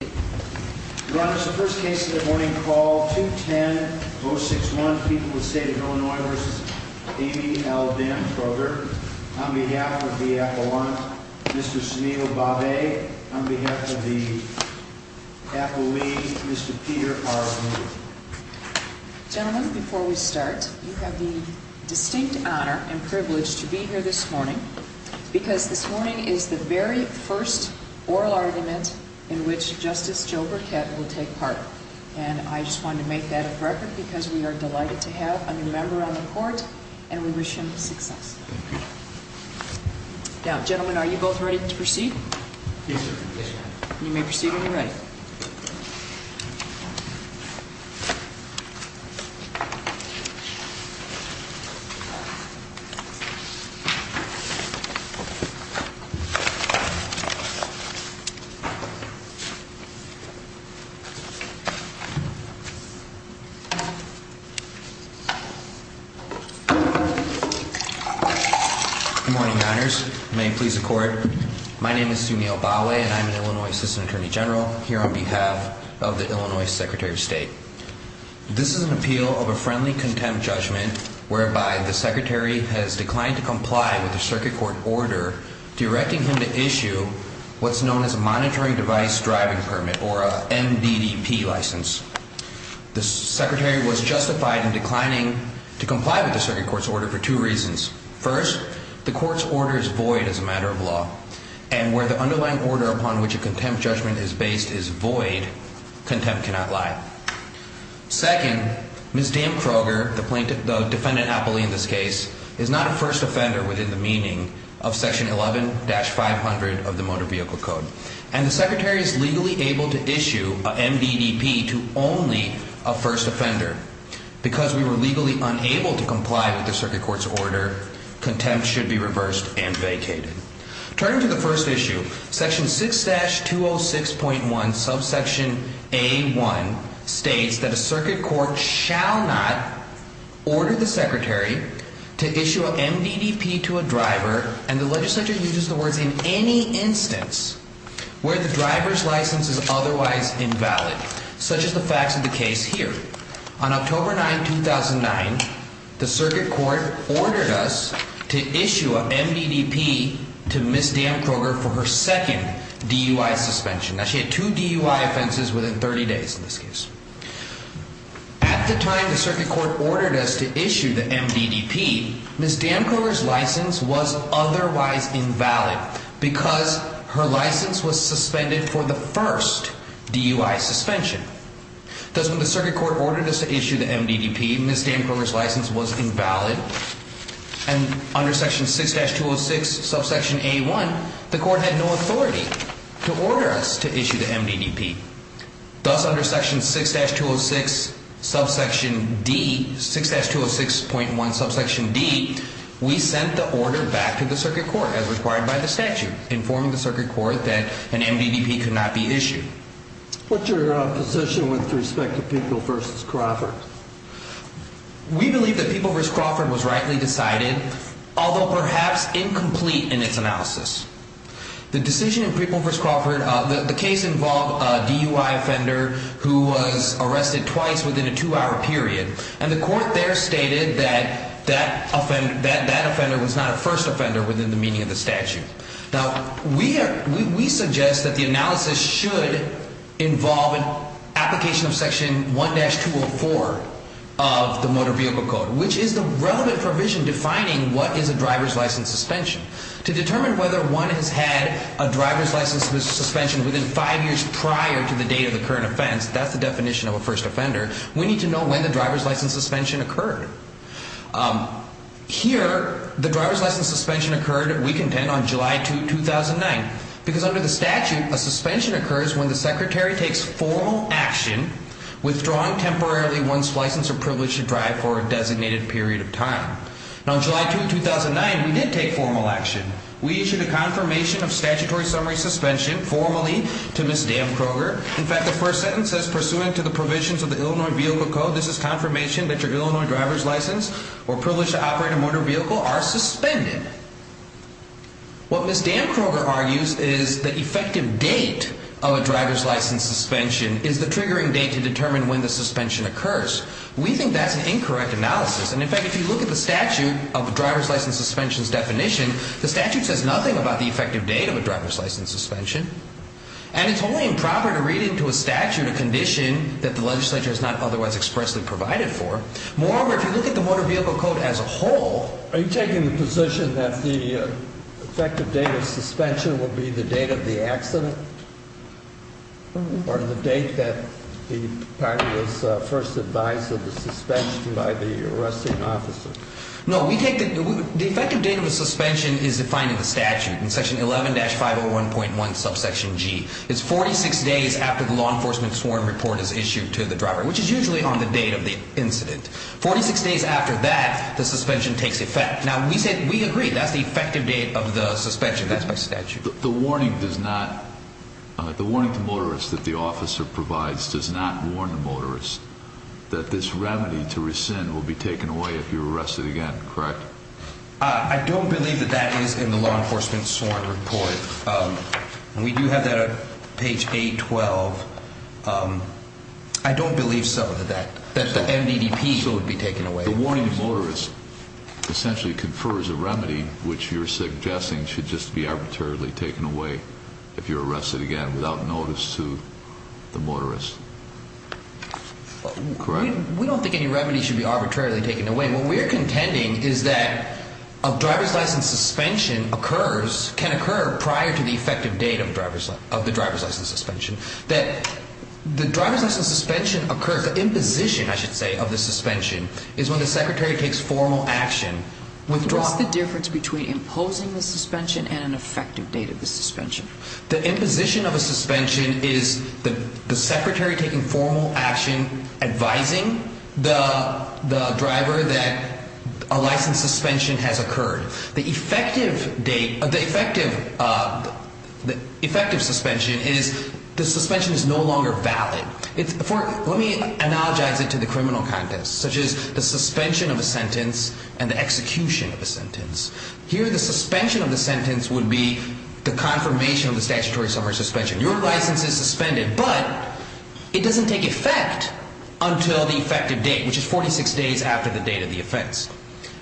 Your Honor, this is the first case of the morning called 210-061, People of the State of Illinois v. Amy L. Damkroger. On behalf of the appellant, Mr. Sunil Bhave. On behalf of the appellee, Mr. Peter R. Moore. Gentlemen, before we start, you have the distinct honor and privilege to be here this morning because this morning is the very first oral argument in which Justice Joe Burkett will take part and I just wanted to make that a record because we are delighted to have a new member on the court and we wish him success. Now, gentlemen, are you both ready to proceed? Yes, Your Honor. You may proceed when you're ready. Good morning, Your Honors. May it please the court. My name is Sunil Bhave and I'm an Illinois Assistant Attorney General here on behalf of the Illinois Secretary of State. This is an appeal of a friendly contempt judgment whereby the secretary has declined to comply with the circuit court order directing him to issue what's known as a monitoring device driving permit or a MDDP license. The secretary was justified in declining to comply with the circuit court's order for two reasons. First, the court's order is void as a matter of law and where the underlying order upon which a contempt judgment is based is void, contempt cannot lie. Second, Ms. Dan Kroger, the defendant appellee in this case, is not a first offender within the meaning of Section 11-500 of the Motor Vehicle Code and the secretary is legally able to issue a MDDP to only a first offender. Because we were legally unable to comply with the circuit court's order, contempt should be reversed and vacated. Turning to the first issue, Section 6-206.1 subsection A1 states that a circuit court shall not order the secretary to issue a MDDP to a driver and the legislature uses the words in any instance where the driver's license is otherwise invalid, such as the facts of the case here. On October 9, 2009, the circuit court ordered us to issue a MDDP to Ms. Dan Kroger for her second DUI suspension. Now, she had two DUI offenses within 30 days in this case. At the time the circuit court ordered us to issue the MDDP, Ms. Dan Kroger's license was otherwise invalid because her license was suspended for the first DUI suspension. Thus, when the circuit court ordered us to issue the MDDP, Ms. Dan Kroger's license was invalid and under Section 6-206 subsection A1, the court had no authority to order us to issue the MDDP. Thus, under Section 6-206 subsection D, 6-206.1 subsection D, we sent the order back to the circuit court as required by the statute, informing the circuit court that an MDDP could not be issued. What's your position with respect to People v. Crawford? We believe that People v. Crawford was rightly decided, although perhaps incomplete in its analysis. The decision in People v. Crawford, the case involved a DUI offender who was arrested twice within a two-hour period, and the court there stated that that offender was not a first offender within the meaning of the statute. Now, we suggest that the analysis should involve an application of Section 1-204 of the Motor Vehicle Code, which is the relevant provision defining what is a driver's license suspension. To determine whether one has had a driver's license suspension within five years prior to the date of the current offense, that's the definition of a first offender, we need to know when the driver's license suspension occurred. Here, the driver's license suspension occurred, we contend, on July 2, 2009, because under the statute, a suspension occurs when the secretary takes formal action, withdrawing temporarily one's license or privilege to drive for a designated period of time. Now, on July 2, 2009, we did take formal action. We issued a confirmation of statutory summary suspension formally to Ms. Dan Kroger. In fact, the first sentence says, pursuant to the provisions of the Illinois Vehicle Code, this is confirmation that your Illinois driver's license or privilege to operate a motor vehicle are suspended. What Ms. Dan Kroger argues is the effective date of a driver's license suspension is the triggering date to determine when the suspension occurs. We think that's an incorrect analysis, and in fact, if you look at the statute of the driver's license suspension's definition, the statute says nothing about the effective date of a driver's license suspension. And it's only improper to read into a statute a condition that the legislature has not otherwise expressly provided for. Moreover, if you look at the Motor Vehicle Code as a whole... Are you taking the position that the effective date of suspension will be the date of the accident? Or the date that the party was first advised of the suspension by the arresting officer? No, the effective date of a suspension is defined in the statute in section 11-501.1 subsection G. It's 46 days after the law enforcement sworn report is issued to the driver, which is usually on the date of the incident. 46 days after that, the suspension takes effect. Now, we agree that's the effective date of the suspension. That's by statute. The warning to motorists that the officer provides does not warn the motorists that this remedy to rescind will be taken away if you're arrested again, correct? I don't believe that that is in the law enforcement sworn report. We do have that on page 8-12. I don't believe some of that, that the MDPD would be taken away. The warning to motorists essentially confers a remedy which you're suggesting should just be arbitrarily taken away if you're arrested again without notice to the motorists. Correct? We don't think any remedy should be arbitrarily taken away. What we're contending is that a driver's license suspension occurs, can occur prior to the effective date of the driver's license suspension. That the driver's license suspension occurs, the imposition, I should say, of the suspension is when the secretary takes formal action. What's the difference between imposing the suspension and an effective date of the suspension? The imposition of a suspension is the secretary taking formal action advising the driver that a license suspension has occurred. The effective date of the effective suspension is the suspension is no longer valid. Let me analogize it to the criminal context, such as the suspension of a sentence and the execution of a sentence. Here the suspension of the sentence would be the confirmation of the statutory summary suspension. Your license is suspended, but it doesn't take effect until the effective date, which is 46 days after the date of the offense.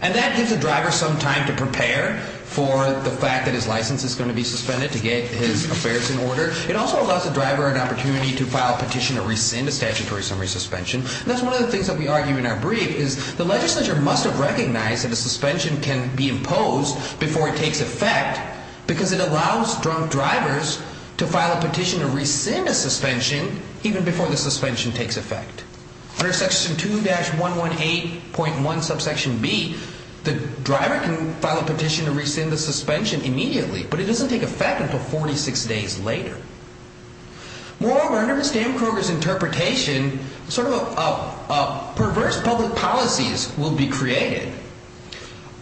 And that gives the driver some time to prepare for the fact that his license is going to be suspended to get his affairs in order. It also allows the driver an opportunity to file a petition to rescind a statutory summary suspension. That's one of the things that we argue in our brief is the legislature must have recognized that a suspension can be imposed before it takes effect. Because it allows drunk drivers to file a petition to rescind a suspension even before the suspension takes effect. Under section 2-118.1 subsection B, the driver can file a petition to rescind the suspension immediately, but it doesn't take effect until 46 days later. Moreover, under Ms. Damkroger's interpretation, sort of a perverse public policies will be created.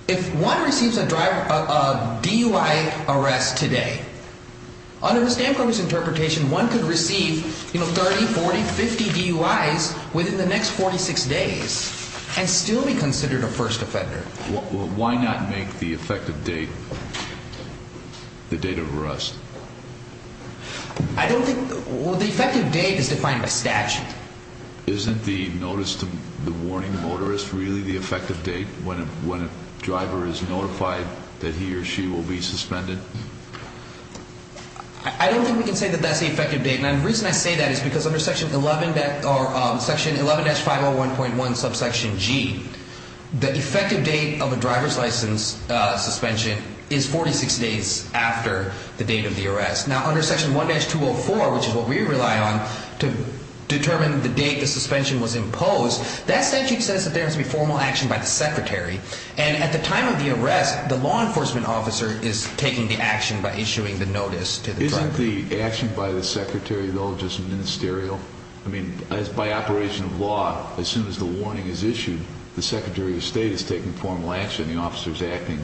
If one receives a DUI arrest today, under Ms. Damkroger's interpretation, one could receive 30, 40, 50 DUIs within the next 46 days and still be considered a first offender. Why not make the effective date the date of arrest? I don't think the effective date is defined by statute. Isn't the notice to the warning motorist really the effective date when a driver is notified that he or she will be suspended? I don't think we can say that that's the effective date. And the reason I say that is because under section 11-501.1 subsection G, the effective date of a driver's license suspension is 46 days after the date of the arrest. Now, under section 1-204, which is what we rely on to determine the date the suspension was imposed, that statute says that there has to be formal action by the secretary. And at the time of the arrest, the law enforcement officer is taking the action by issuing the notice to the driver. Isn't the action by the secretary, though, just ministerial? I mean, by operation of law, as soon as the warning is issued, the secretary of state is taking formal action and the officer is acting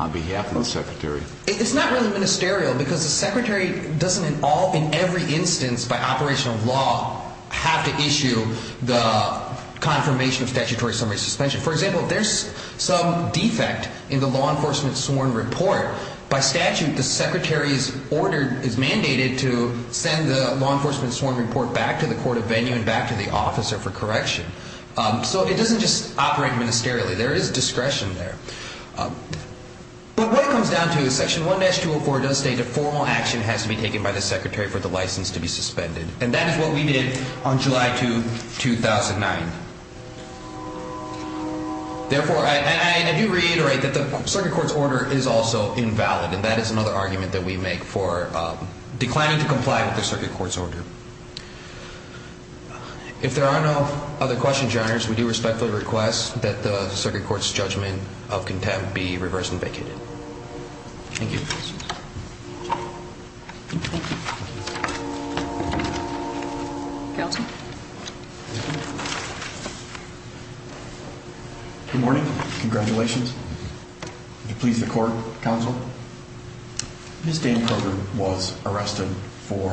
on behalf of the secretary. It's not really ministerial because the secretary doesn't in every instance by operation of law have to issue the confirmation of statutory summary suspension. For example, there's some defect in the law enforcement sworn report. By statute, the secretary's order is mandated to send the law enforcement sworn report back to the court of venue and back to the officer for correction. So it doesn't just operate ministerially. There is discretion there. But what it comes down to is section 1-204 does state that formal action has to be taken by the secretary for the license to be suspended. And that is what we did on July 2, 2009. Therefore, I do reiterate that the circuit court's order is also invalid. And that is another argument that we make for declining to comply with the circuit court's order. If there are no other questions, your honors, we do respectfully request that the circuit court's judgment of contempt be reversed and vacated. Thank you. Good morning. Congratulations. Please, the court counsel. Ms. Dan Carter was arrested for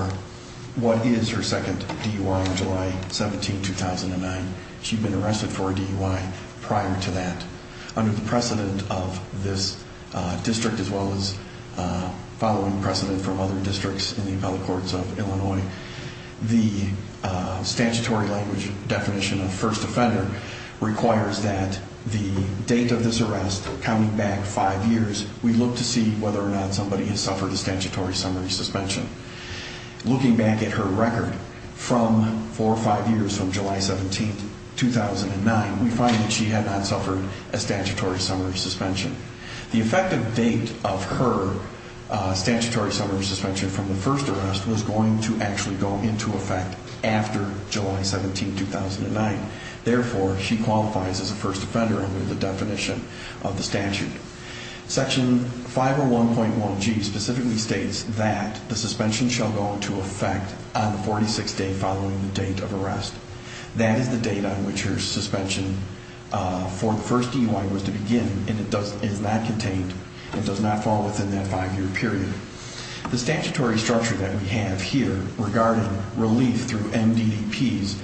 what is her second DUI on July 17, 2009. She'd been arrested for a DUI prior to that. Under the precedent of this district as well as following precedent from other districts in the appellate courts of Illinois, the statutory language definition of first offender requires that the date of this arrest coming back five years, we look to see whether or not somebody has suffered a statutory summary suspension. Looking back at her record from four or five years from July 17, 2009, we find that she had not suffered a statutory summary suspension. The effective date of her statutory summary suspension from the first arrest was going to actually go into effect after July 17, 2009. Therefore, she qualifies as a first offender under the definition of the statute. Section 501.1G specifically states that the suspension shall go into effect on the 46th day following the date of arrest. That is the date on which her suspension for the first DUI was to begin, and it is not contained. It does not fall within that five-year period. The statutory structure that we have here regarding relief through MDTPs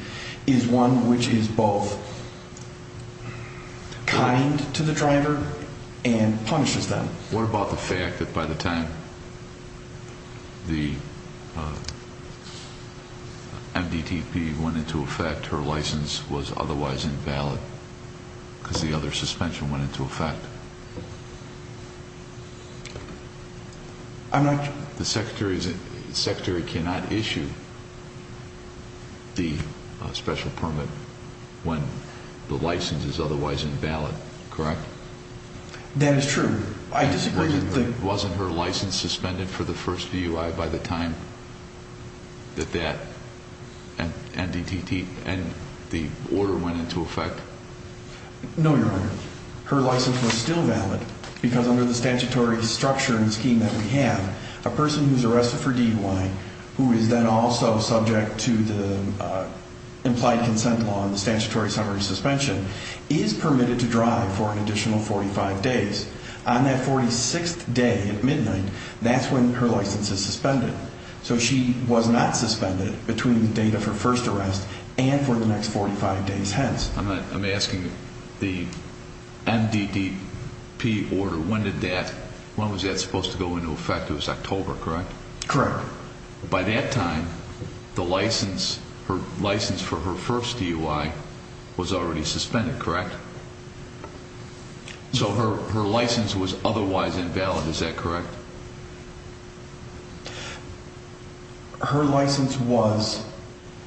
is one which is both kind to the driver and punishes them. What about the fact that by the time the MDTP went into effect, her license was otherwise invalid because the other suspension went into effect? I'm not sure. The secretary cannot issue the special permit when the license is otherwise invalid, correct? That is true. Wasn't her license suspended for the first DUI by the time that that MDTP and the order went into effect? No, Your Honor. Her license was still valid because under the statutory structure and scheme that we have, a person who is arrested for DUI who is then also subject to the implied consent law and the statutory summary suspension is permitted to drive for an additional 45 days. On that 46th day at midnight, that's when her license is suspended. So she was not suspended between the date of her first arrest and for the next 45 days hence. I'm asking the MDTP order, when was that supposed to go into effect? It was October, correct? Correct. By that time, the license for her first DUI was already suspended, correct? So her license was otherwise invalid, is that correct? Her license was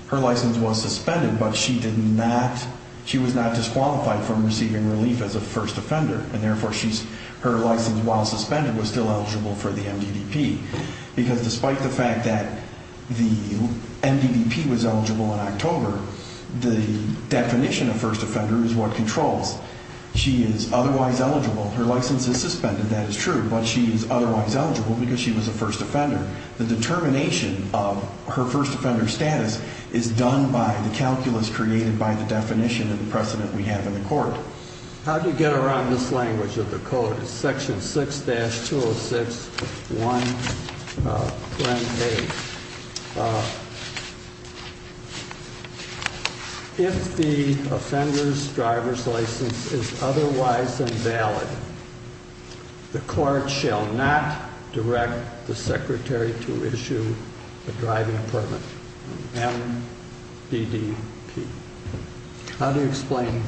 suspended but she was not disqualified from receiving relief as a first offender and therefore her license, while suspended, was still eligible for the MDTP because despite the fact that the MDTP was eligible in October, the definition of first offender is what controls. She is otherwise eligible, her license is suspended, that is true, but she is otherwise eligible because she was a first offender. The determination of her first offender status is done by the calculus created by the definition and precedent we have in the court. How do you get around this language of the code? It's section 6-206.1, plan 8. If the offender's driver's license is otherwise invalid, the court shall not direct the secretary to issue a driving permit, MDDP. How do you explain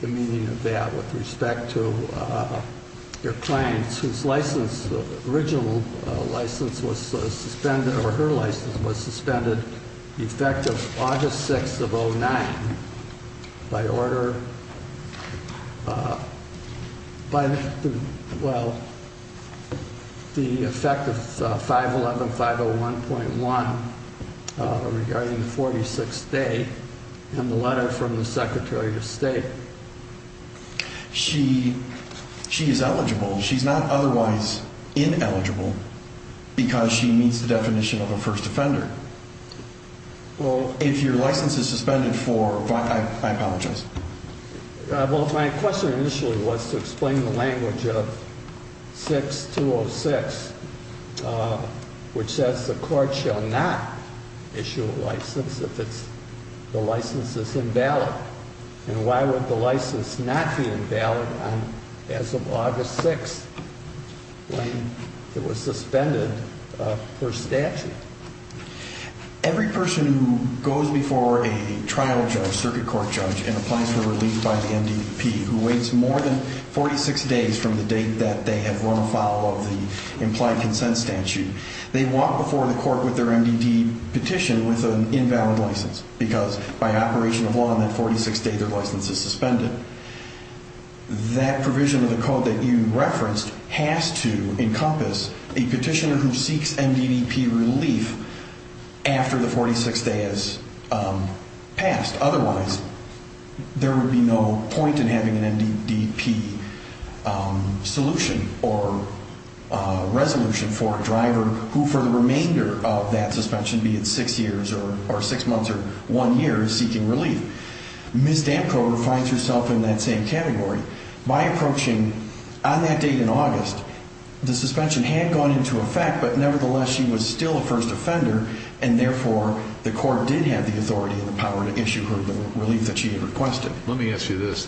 the meaning of that with respect to your clients whose license, original license was suspended, or her license was suspended effective August 6th of 2009 by order, by the, well, the effect of 511-501.1 regarding the 46th day and the letter from the secretary of state? She is eligible, she's not otherwise ineligible because she meets the definition of a first offender. Well, if your license is suspended for, I apologize. Well, my question initially was to explain the language of 6-206, which says the court shall not issue a license if the license is invalid. And why would the license not be invalid as of August 6th when it was suspended per statute? Every person who goes before a trial judge, circuit court judge, and applies for relief by the MDDP who waits more than 46 days from the date that they have run afoul of the implied consent statute, they walk before the court with their MDDP petition with an invalid license because by operation of law on that 46th day their license is suspended. That provision of the code that you referenced has to encompass a petitioner who seeks MDDP relief after the 46th day has passed. Otherwise, there would be no point in having an MDDP solution or resolution for a driver who for the remainder of that suspension, be it six years or six months or one year, is seeking relief. Ms. Dampkow defines herself in that same category. By approaching on that date in August, the suspension had gone into effect, but nevertheless she was still a first offender, and therefore the court did have the authority and the power to issue her the relief that she had requested. Let me ask you this.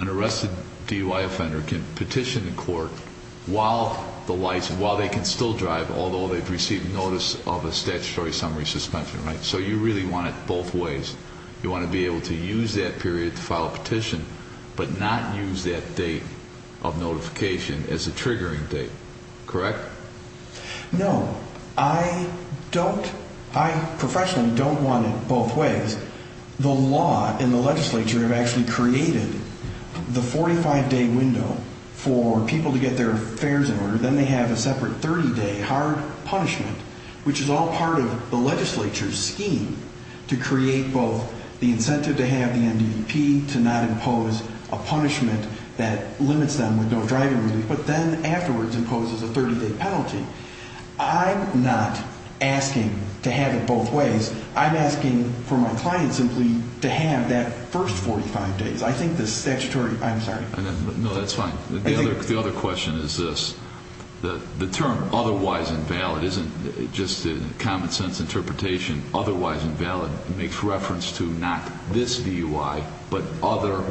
An arrested DUI offender can petition the court while they can still drive, although they've received notice of a statutory summary suspension, right? So you really want it both ways. You want to be able to use that period to file a petition, but not use that date of notification as a triggering date, correct? No. I don't. I professionally don't want it both ways. The law and the legislature have actually created the 45-day window for people to get their affairs in order. Then they have a separate 30-day hard punishment, which is all part of the legislature's scheme to create both the incentive to have the MDDP, to not impose a punishment that limits them with no driving relief, but then afterwards imposes a 30-day penalty. I'm not asking to have it both ways. I'm asking for my client simply to have that first 45 days. I think the statutory – I'm sorry. No, that's fine. The other question is this. The term otherwise invalid isn't just a common-sense interpretation. Otherwise invalid makes reference to not this DUI, but other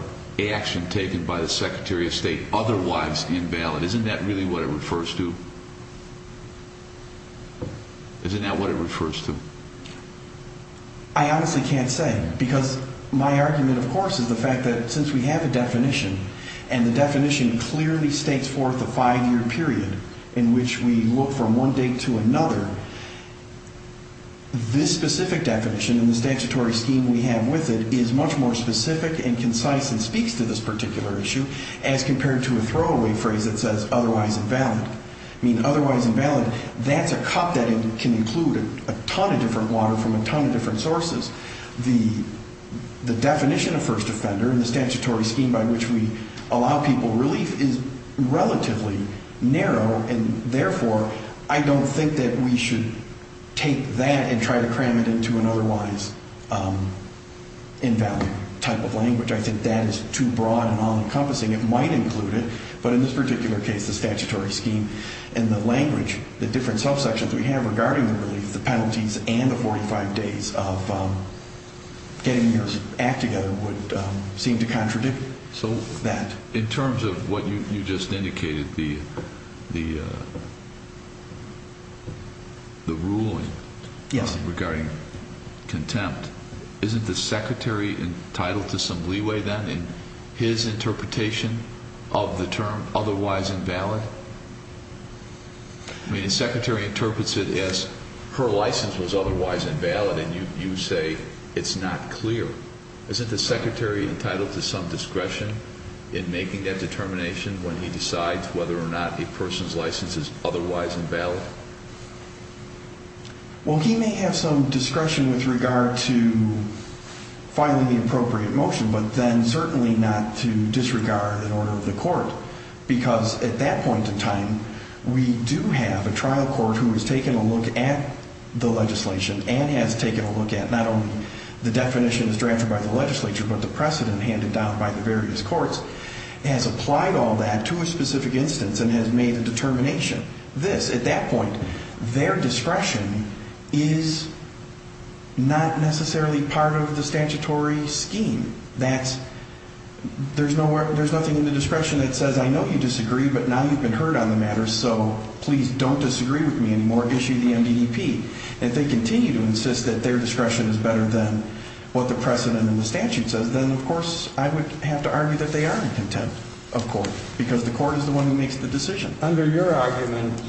action taken by the Secretary of State otherwise invalid. Isn't that really what it refers to? Isn't that what it refers to? I honestly can't say because my argument, of course, is the fact that since we have a definition and the definition clearly states forth a five-year period in which we look from one date to another, this specific definition in the statutory scheme we have with it is much more specific and concise and speaks to this particular issue as compared to a throwaway phrase that says otherwise invalid. I mean, otherwise invalid, that's a cup that can include a ton of different water from a ton of different sources. The definition of first offender in the statutory scheme by which we allow people relief is relatively narrow, and therefore I don't think that we should take that and try to cram it into an otherwise invalid type of language. I think that is too broad and unencompassing. It might include it, but in this particular case, the statutory scheme and the language, the different subsections we have regarding the relief, the penalties and the 45 days of getting your act together would seem to contradict that. In terms of what you just indicated, the ruling regarding contempt, isn't the Secretary entitled to some leeway then in his interpretation of the term otherwise invalid? I mean, the Secretary interprets it as her license was otherwise invalid, and you say it's not clear. Isn't the Secretary entitled to some discretion in making that determination when he decides whether or not a person's license is otherwise invalid? Well, he may have some discretion with regard to filing the appropriate motion, but then certainly not to disregard an order of the court, because at that point in time, we do have a trial court who has taken a look at the legislation and has taken a look at not only the definitions drafted by the legislature, but the precedent handed down by the various courts, has applied all that to a specific instance and has made a determination. This, at that point, their discretion is not necessarily part of the statutory scheme. There's nothing in the discretion that says, I know you disagree, but now you've been heard on the matter, so please don't disagree with me anymore. Issue the MDP. If they continue to insist that their discretion is better than what the precedent in the statute says, then, of course, I would have to argue that they are in contempt of court, because the court is the one who makes the decision. Under your argument,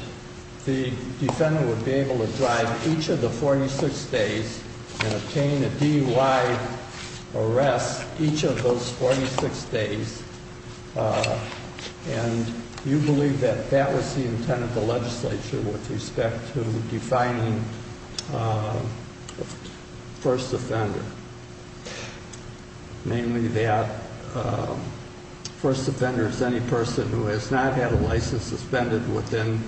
the defendant would be able to drive each of the 46 days and obtain a DUI arrest each of those 46 days, and you believe that that was the intent of the legislature with respect to defining first offender, namely that first offender is any person who has not had a license suspended within,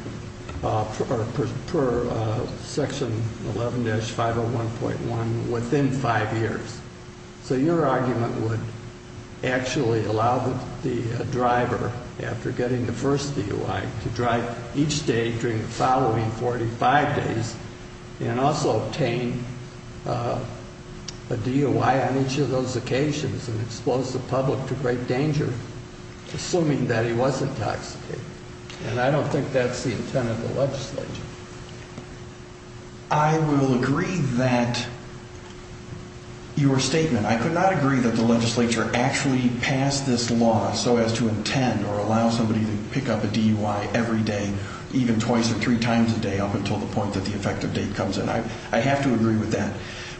per section 11-501.1, within five years. So your argument would actually allow the driver, after getting the first DUI, to drive each day during the following 45 days and also obtain a DUI on each of those occasions and expose the public to great danger, assuming that he was intoxicated. And I don't think that's the intent of the legislature. I will agree that your statement, I could not agree that the legislature actually passed this law so as to intend or allow somebody to pick up a DUI every day, even twice or three times a day, up until the point that the effective date comes in. I have to agree with that,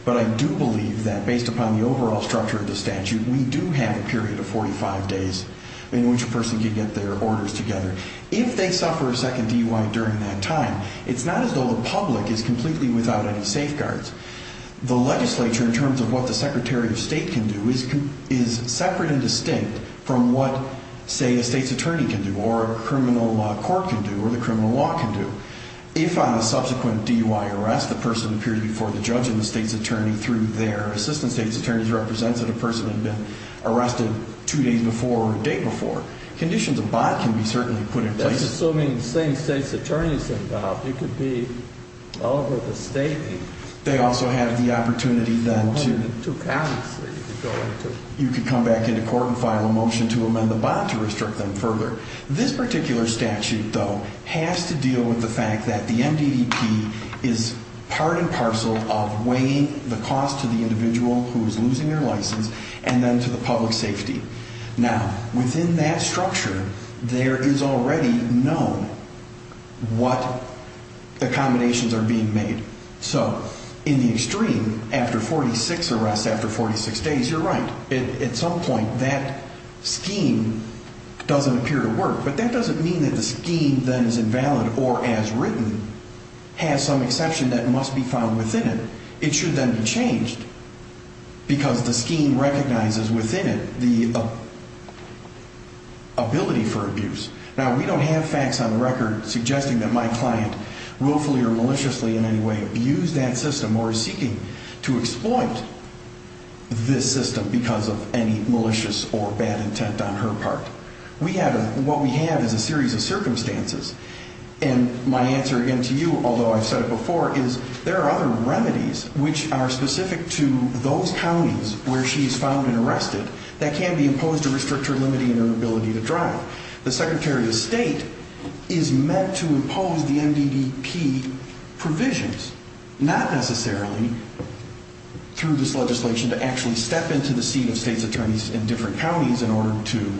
but I do believe that, based upon the overall structure of the statute, we do have a period of 45 days in which a person can get their orders together. If they suffer a second DUI during that time, it's not as though the public is completely without any safeguards. The legislature, in terms of what the Secretary of State can do, is separate and distinct from what, say, a state's attorney can do or a criminal court can do or the criminal law can do. If, on a subsequent DUI arrest, the person appeared before the judge and the state's attorney through their assistant state's attorney's representative person had been arrested two days before or a day before, conditions of bond can be certainly put in place. That's assuming the same state's attorney is involved. It could be all over the state. They also have the opportunity, then, to... Two counties that you could go into. You could come back into court and file a motion to amend the bond to restrict them further. This particular statute, though, has to deal with the fact that the MDDP is part and parcel of weighing the cost to the individual who is losing their license and then to the public safety. Now, within that structure, there is already known what accommodations are being made. So, in the extreme, after 46 arrests after 46 days, you're right. At some point, that scheme doesn't appear to work. But that doesn't mean that the scheme, then, is invalid or, as written, has some exception that must be found within it. It should then be changed because the scheme recognizes within it the ability for abuse. Now, we don't have facts on record suggesting that my client willfully or maliciously in any way abused that system or is seeking to exploit this system because of any malicious or bad intent on her part. What we have is a series of circumstances. And my answer, again, to you, although I've said it before, is there are other remedies which are specific to those counties where she is found and arrested that can be imposed to restrict her limiting her ability to drive. The Secretary of State is meant to impose the MDDP provisions, not necessarily, through this legislation, to actually step into the seat of state's attorneys in different counties in order to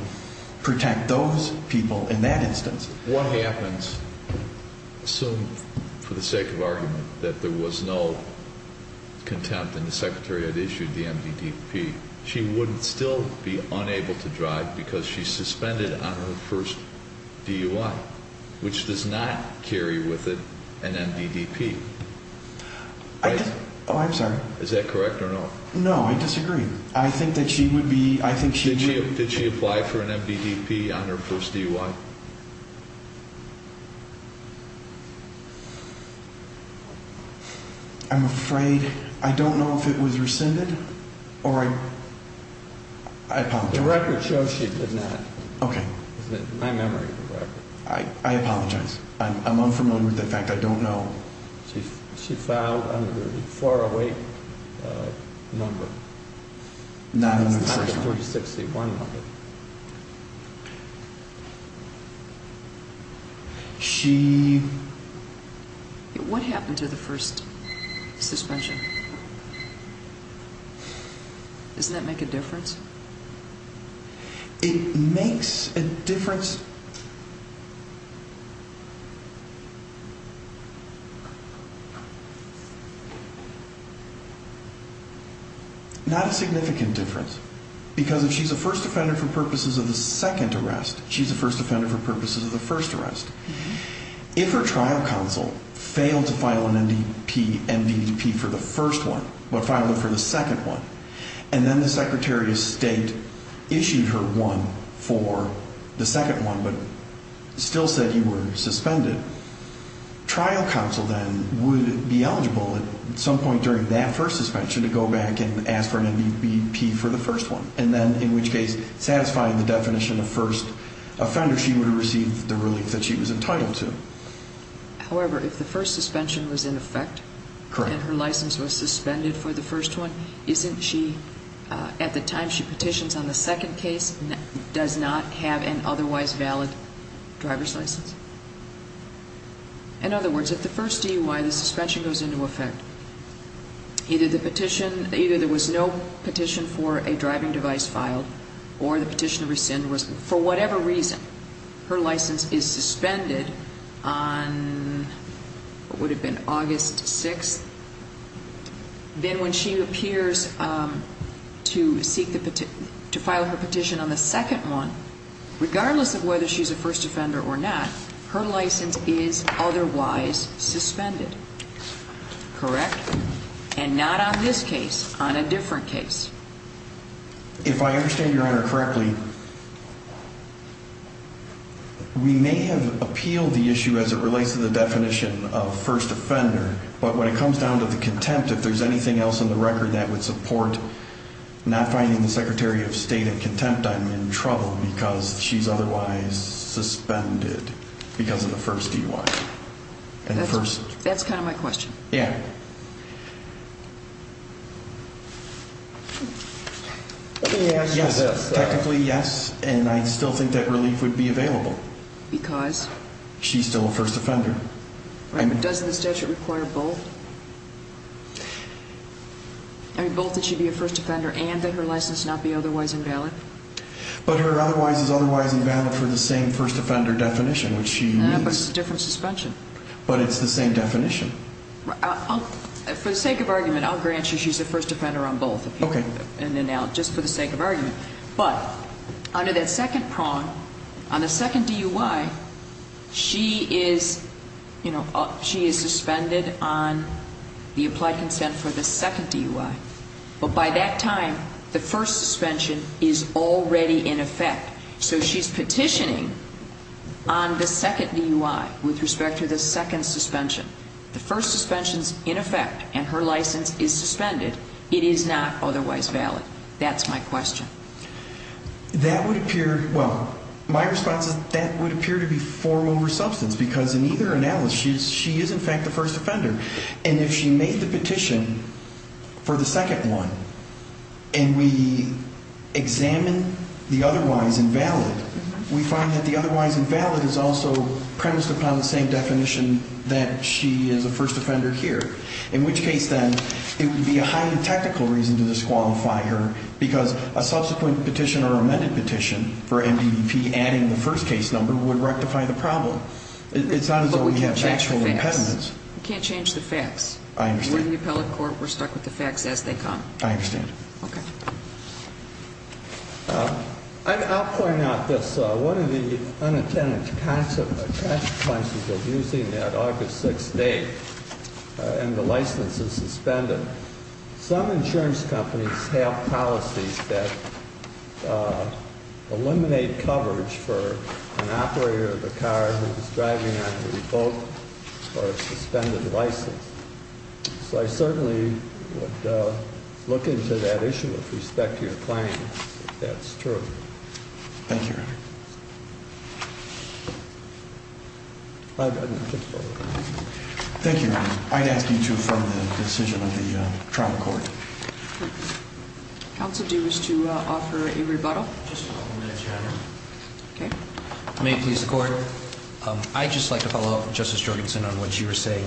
protect those people in that instance. What happens? Assume, for the sake of argument, that there was no contempt and the Secretary had issued the MDDP. She wouldn't still be unable to drive because she's suspended on her first DUI, which does not carry with it an MDDP. Oh, I'm sorry. Is that correct or no? No, I disagree. I think that she would be, I think she would. Did she apply for an MDDP on her first DUI? I'm afraid I don't know if it was rescinded or I apologize. The record shows she did not. Okay. My memory of the record. I apologize. I'm unfamiliar with the fact. I don't know. She filed under the 408 number. No, that's the first one. 4681 number. She. What happened to the first suspension? Doesn't that make a difference? It makes a difference. Not a significant difference. Because if she's a first offender for purposes of the second arrest, she's a first offender for purposes of the first arrest. If her trial counsel failed to file an MDDP for the first one, but filed it for the second one, and then the Secretary of State issued her one for the second one, but still said you were suspended, trial counsel then would be eligible at some point during that first suspension to go back and ask for an MDDP for the first one. And then, in which case, satisfying the definition of first offender, she would have received the relief that she was entitled to. However, if the first suspension was in effect. Correct. And her license was suspended for the first one, isn't she, at the time she petitions on the second case, does not have an otherwise valid driver's license? In other words, at the first DUI, the suspension goes into effect. Either the petition, either there was no petition for a driving device filed, or the petition to rescind was, for whatever reason, her license is suspended on, what would it have been, August 6th. Then when she appears to file her petition on the second one, regardless of whether she's a first offender or not, her license is otherwise suspended. Correct? And not on this case, on a different case. If I understand Your Honor correctly, we may have appealed the issue as it relates to the definition of first offender, but when it comes down to the contempt, if there's anything else in the record that would support not finding the Secretary of State in contempt, I'm in trouble because she's otherwise suspended because of the first DUI. That's kind of my question. Yeah. Yes, technically yes, and I still think that relief would be available. Because? She's still a first offender. Right, but doesn't the statute require both? I mean, both that she be a first offender and that her license not be otherwise invalid? But her otherwise is otherwise invalid for the same first offender definition, which she needs. No, but it's a different suspension. But it's the same definition. For the sake of argument, I'll grant you she's a first offender on both. Okay. Just for the sake of argument. But under that second prong, on the second DUI, she is suspended on the applied consent for the second DUI. But by that time, the first suspension is already in effect. So she's petitioning on the second DUI with respect to the second suspension. The first suspension is in effect and her license is suspended. It is not otherwise valid. That's my question. That would appear, well, my response is that would appear to be form over substance because in either analysis, she is in fact a first offender. And if she made the petition for the second one and we examine the otherwise invalid, we find that the otherwise invalid is also premised upon the same definition that she is a first offender here. In which case, then, it would be a highly technical reason to disqualify her because a subsequent petition or amended petition for MDPP adding the first case number would rectify the problem. It's not as though we have actual impediments. We can't change the facts. I understand. We're in the appellate court. We're stuck with the facts as they come. I understand. Okay. I'll point out this. One of the unintended consequences of using that August 6th date and the license is suspended. Some insurance companies have policies that eliminate coverage for an operator of a car who is driving on a revoked or suspended license. So I certainly would look into that issue with respect to your claim, if that's true. Thank you, Your Honor. Thank you, Your Honor. I'd ask you to affirm the decision of the trial court. Counsel, do you wish to offer a rebuttal? Just for a moment, Your Honor. Okay. May it please the Court? I'd just like to follow up, Justice Jorgensen, on what you were saying.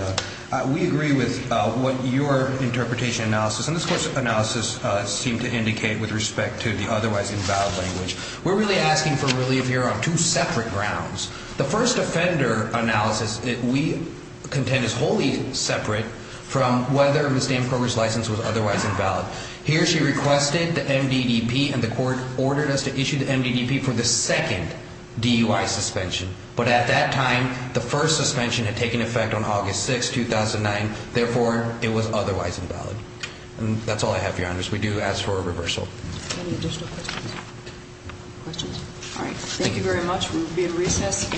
We agree with what your interpretation analysis and this course of analysis seem to indicate with respect to the otherwise invalid language. We're really asking for relief here on two separate grounds. The first offender analysis, we contend, is wholly separate from whether Ms. Danforger's license was otherwise invalid. Here she requested the MDDP, and the Court ordered us to issue the MDDP for the second DUI suspension. But at that time, the first suspension had taken effect on August 6th, 2009. Therefore, it was otherwise invalid. And that's all I have, Your Honors. We do ask for a reversal. Any additional questions? Questions? All right. Thank you very much. We'll be at recess.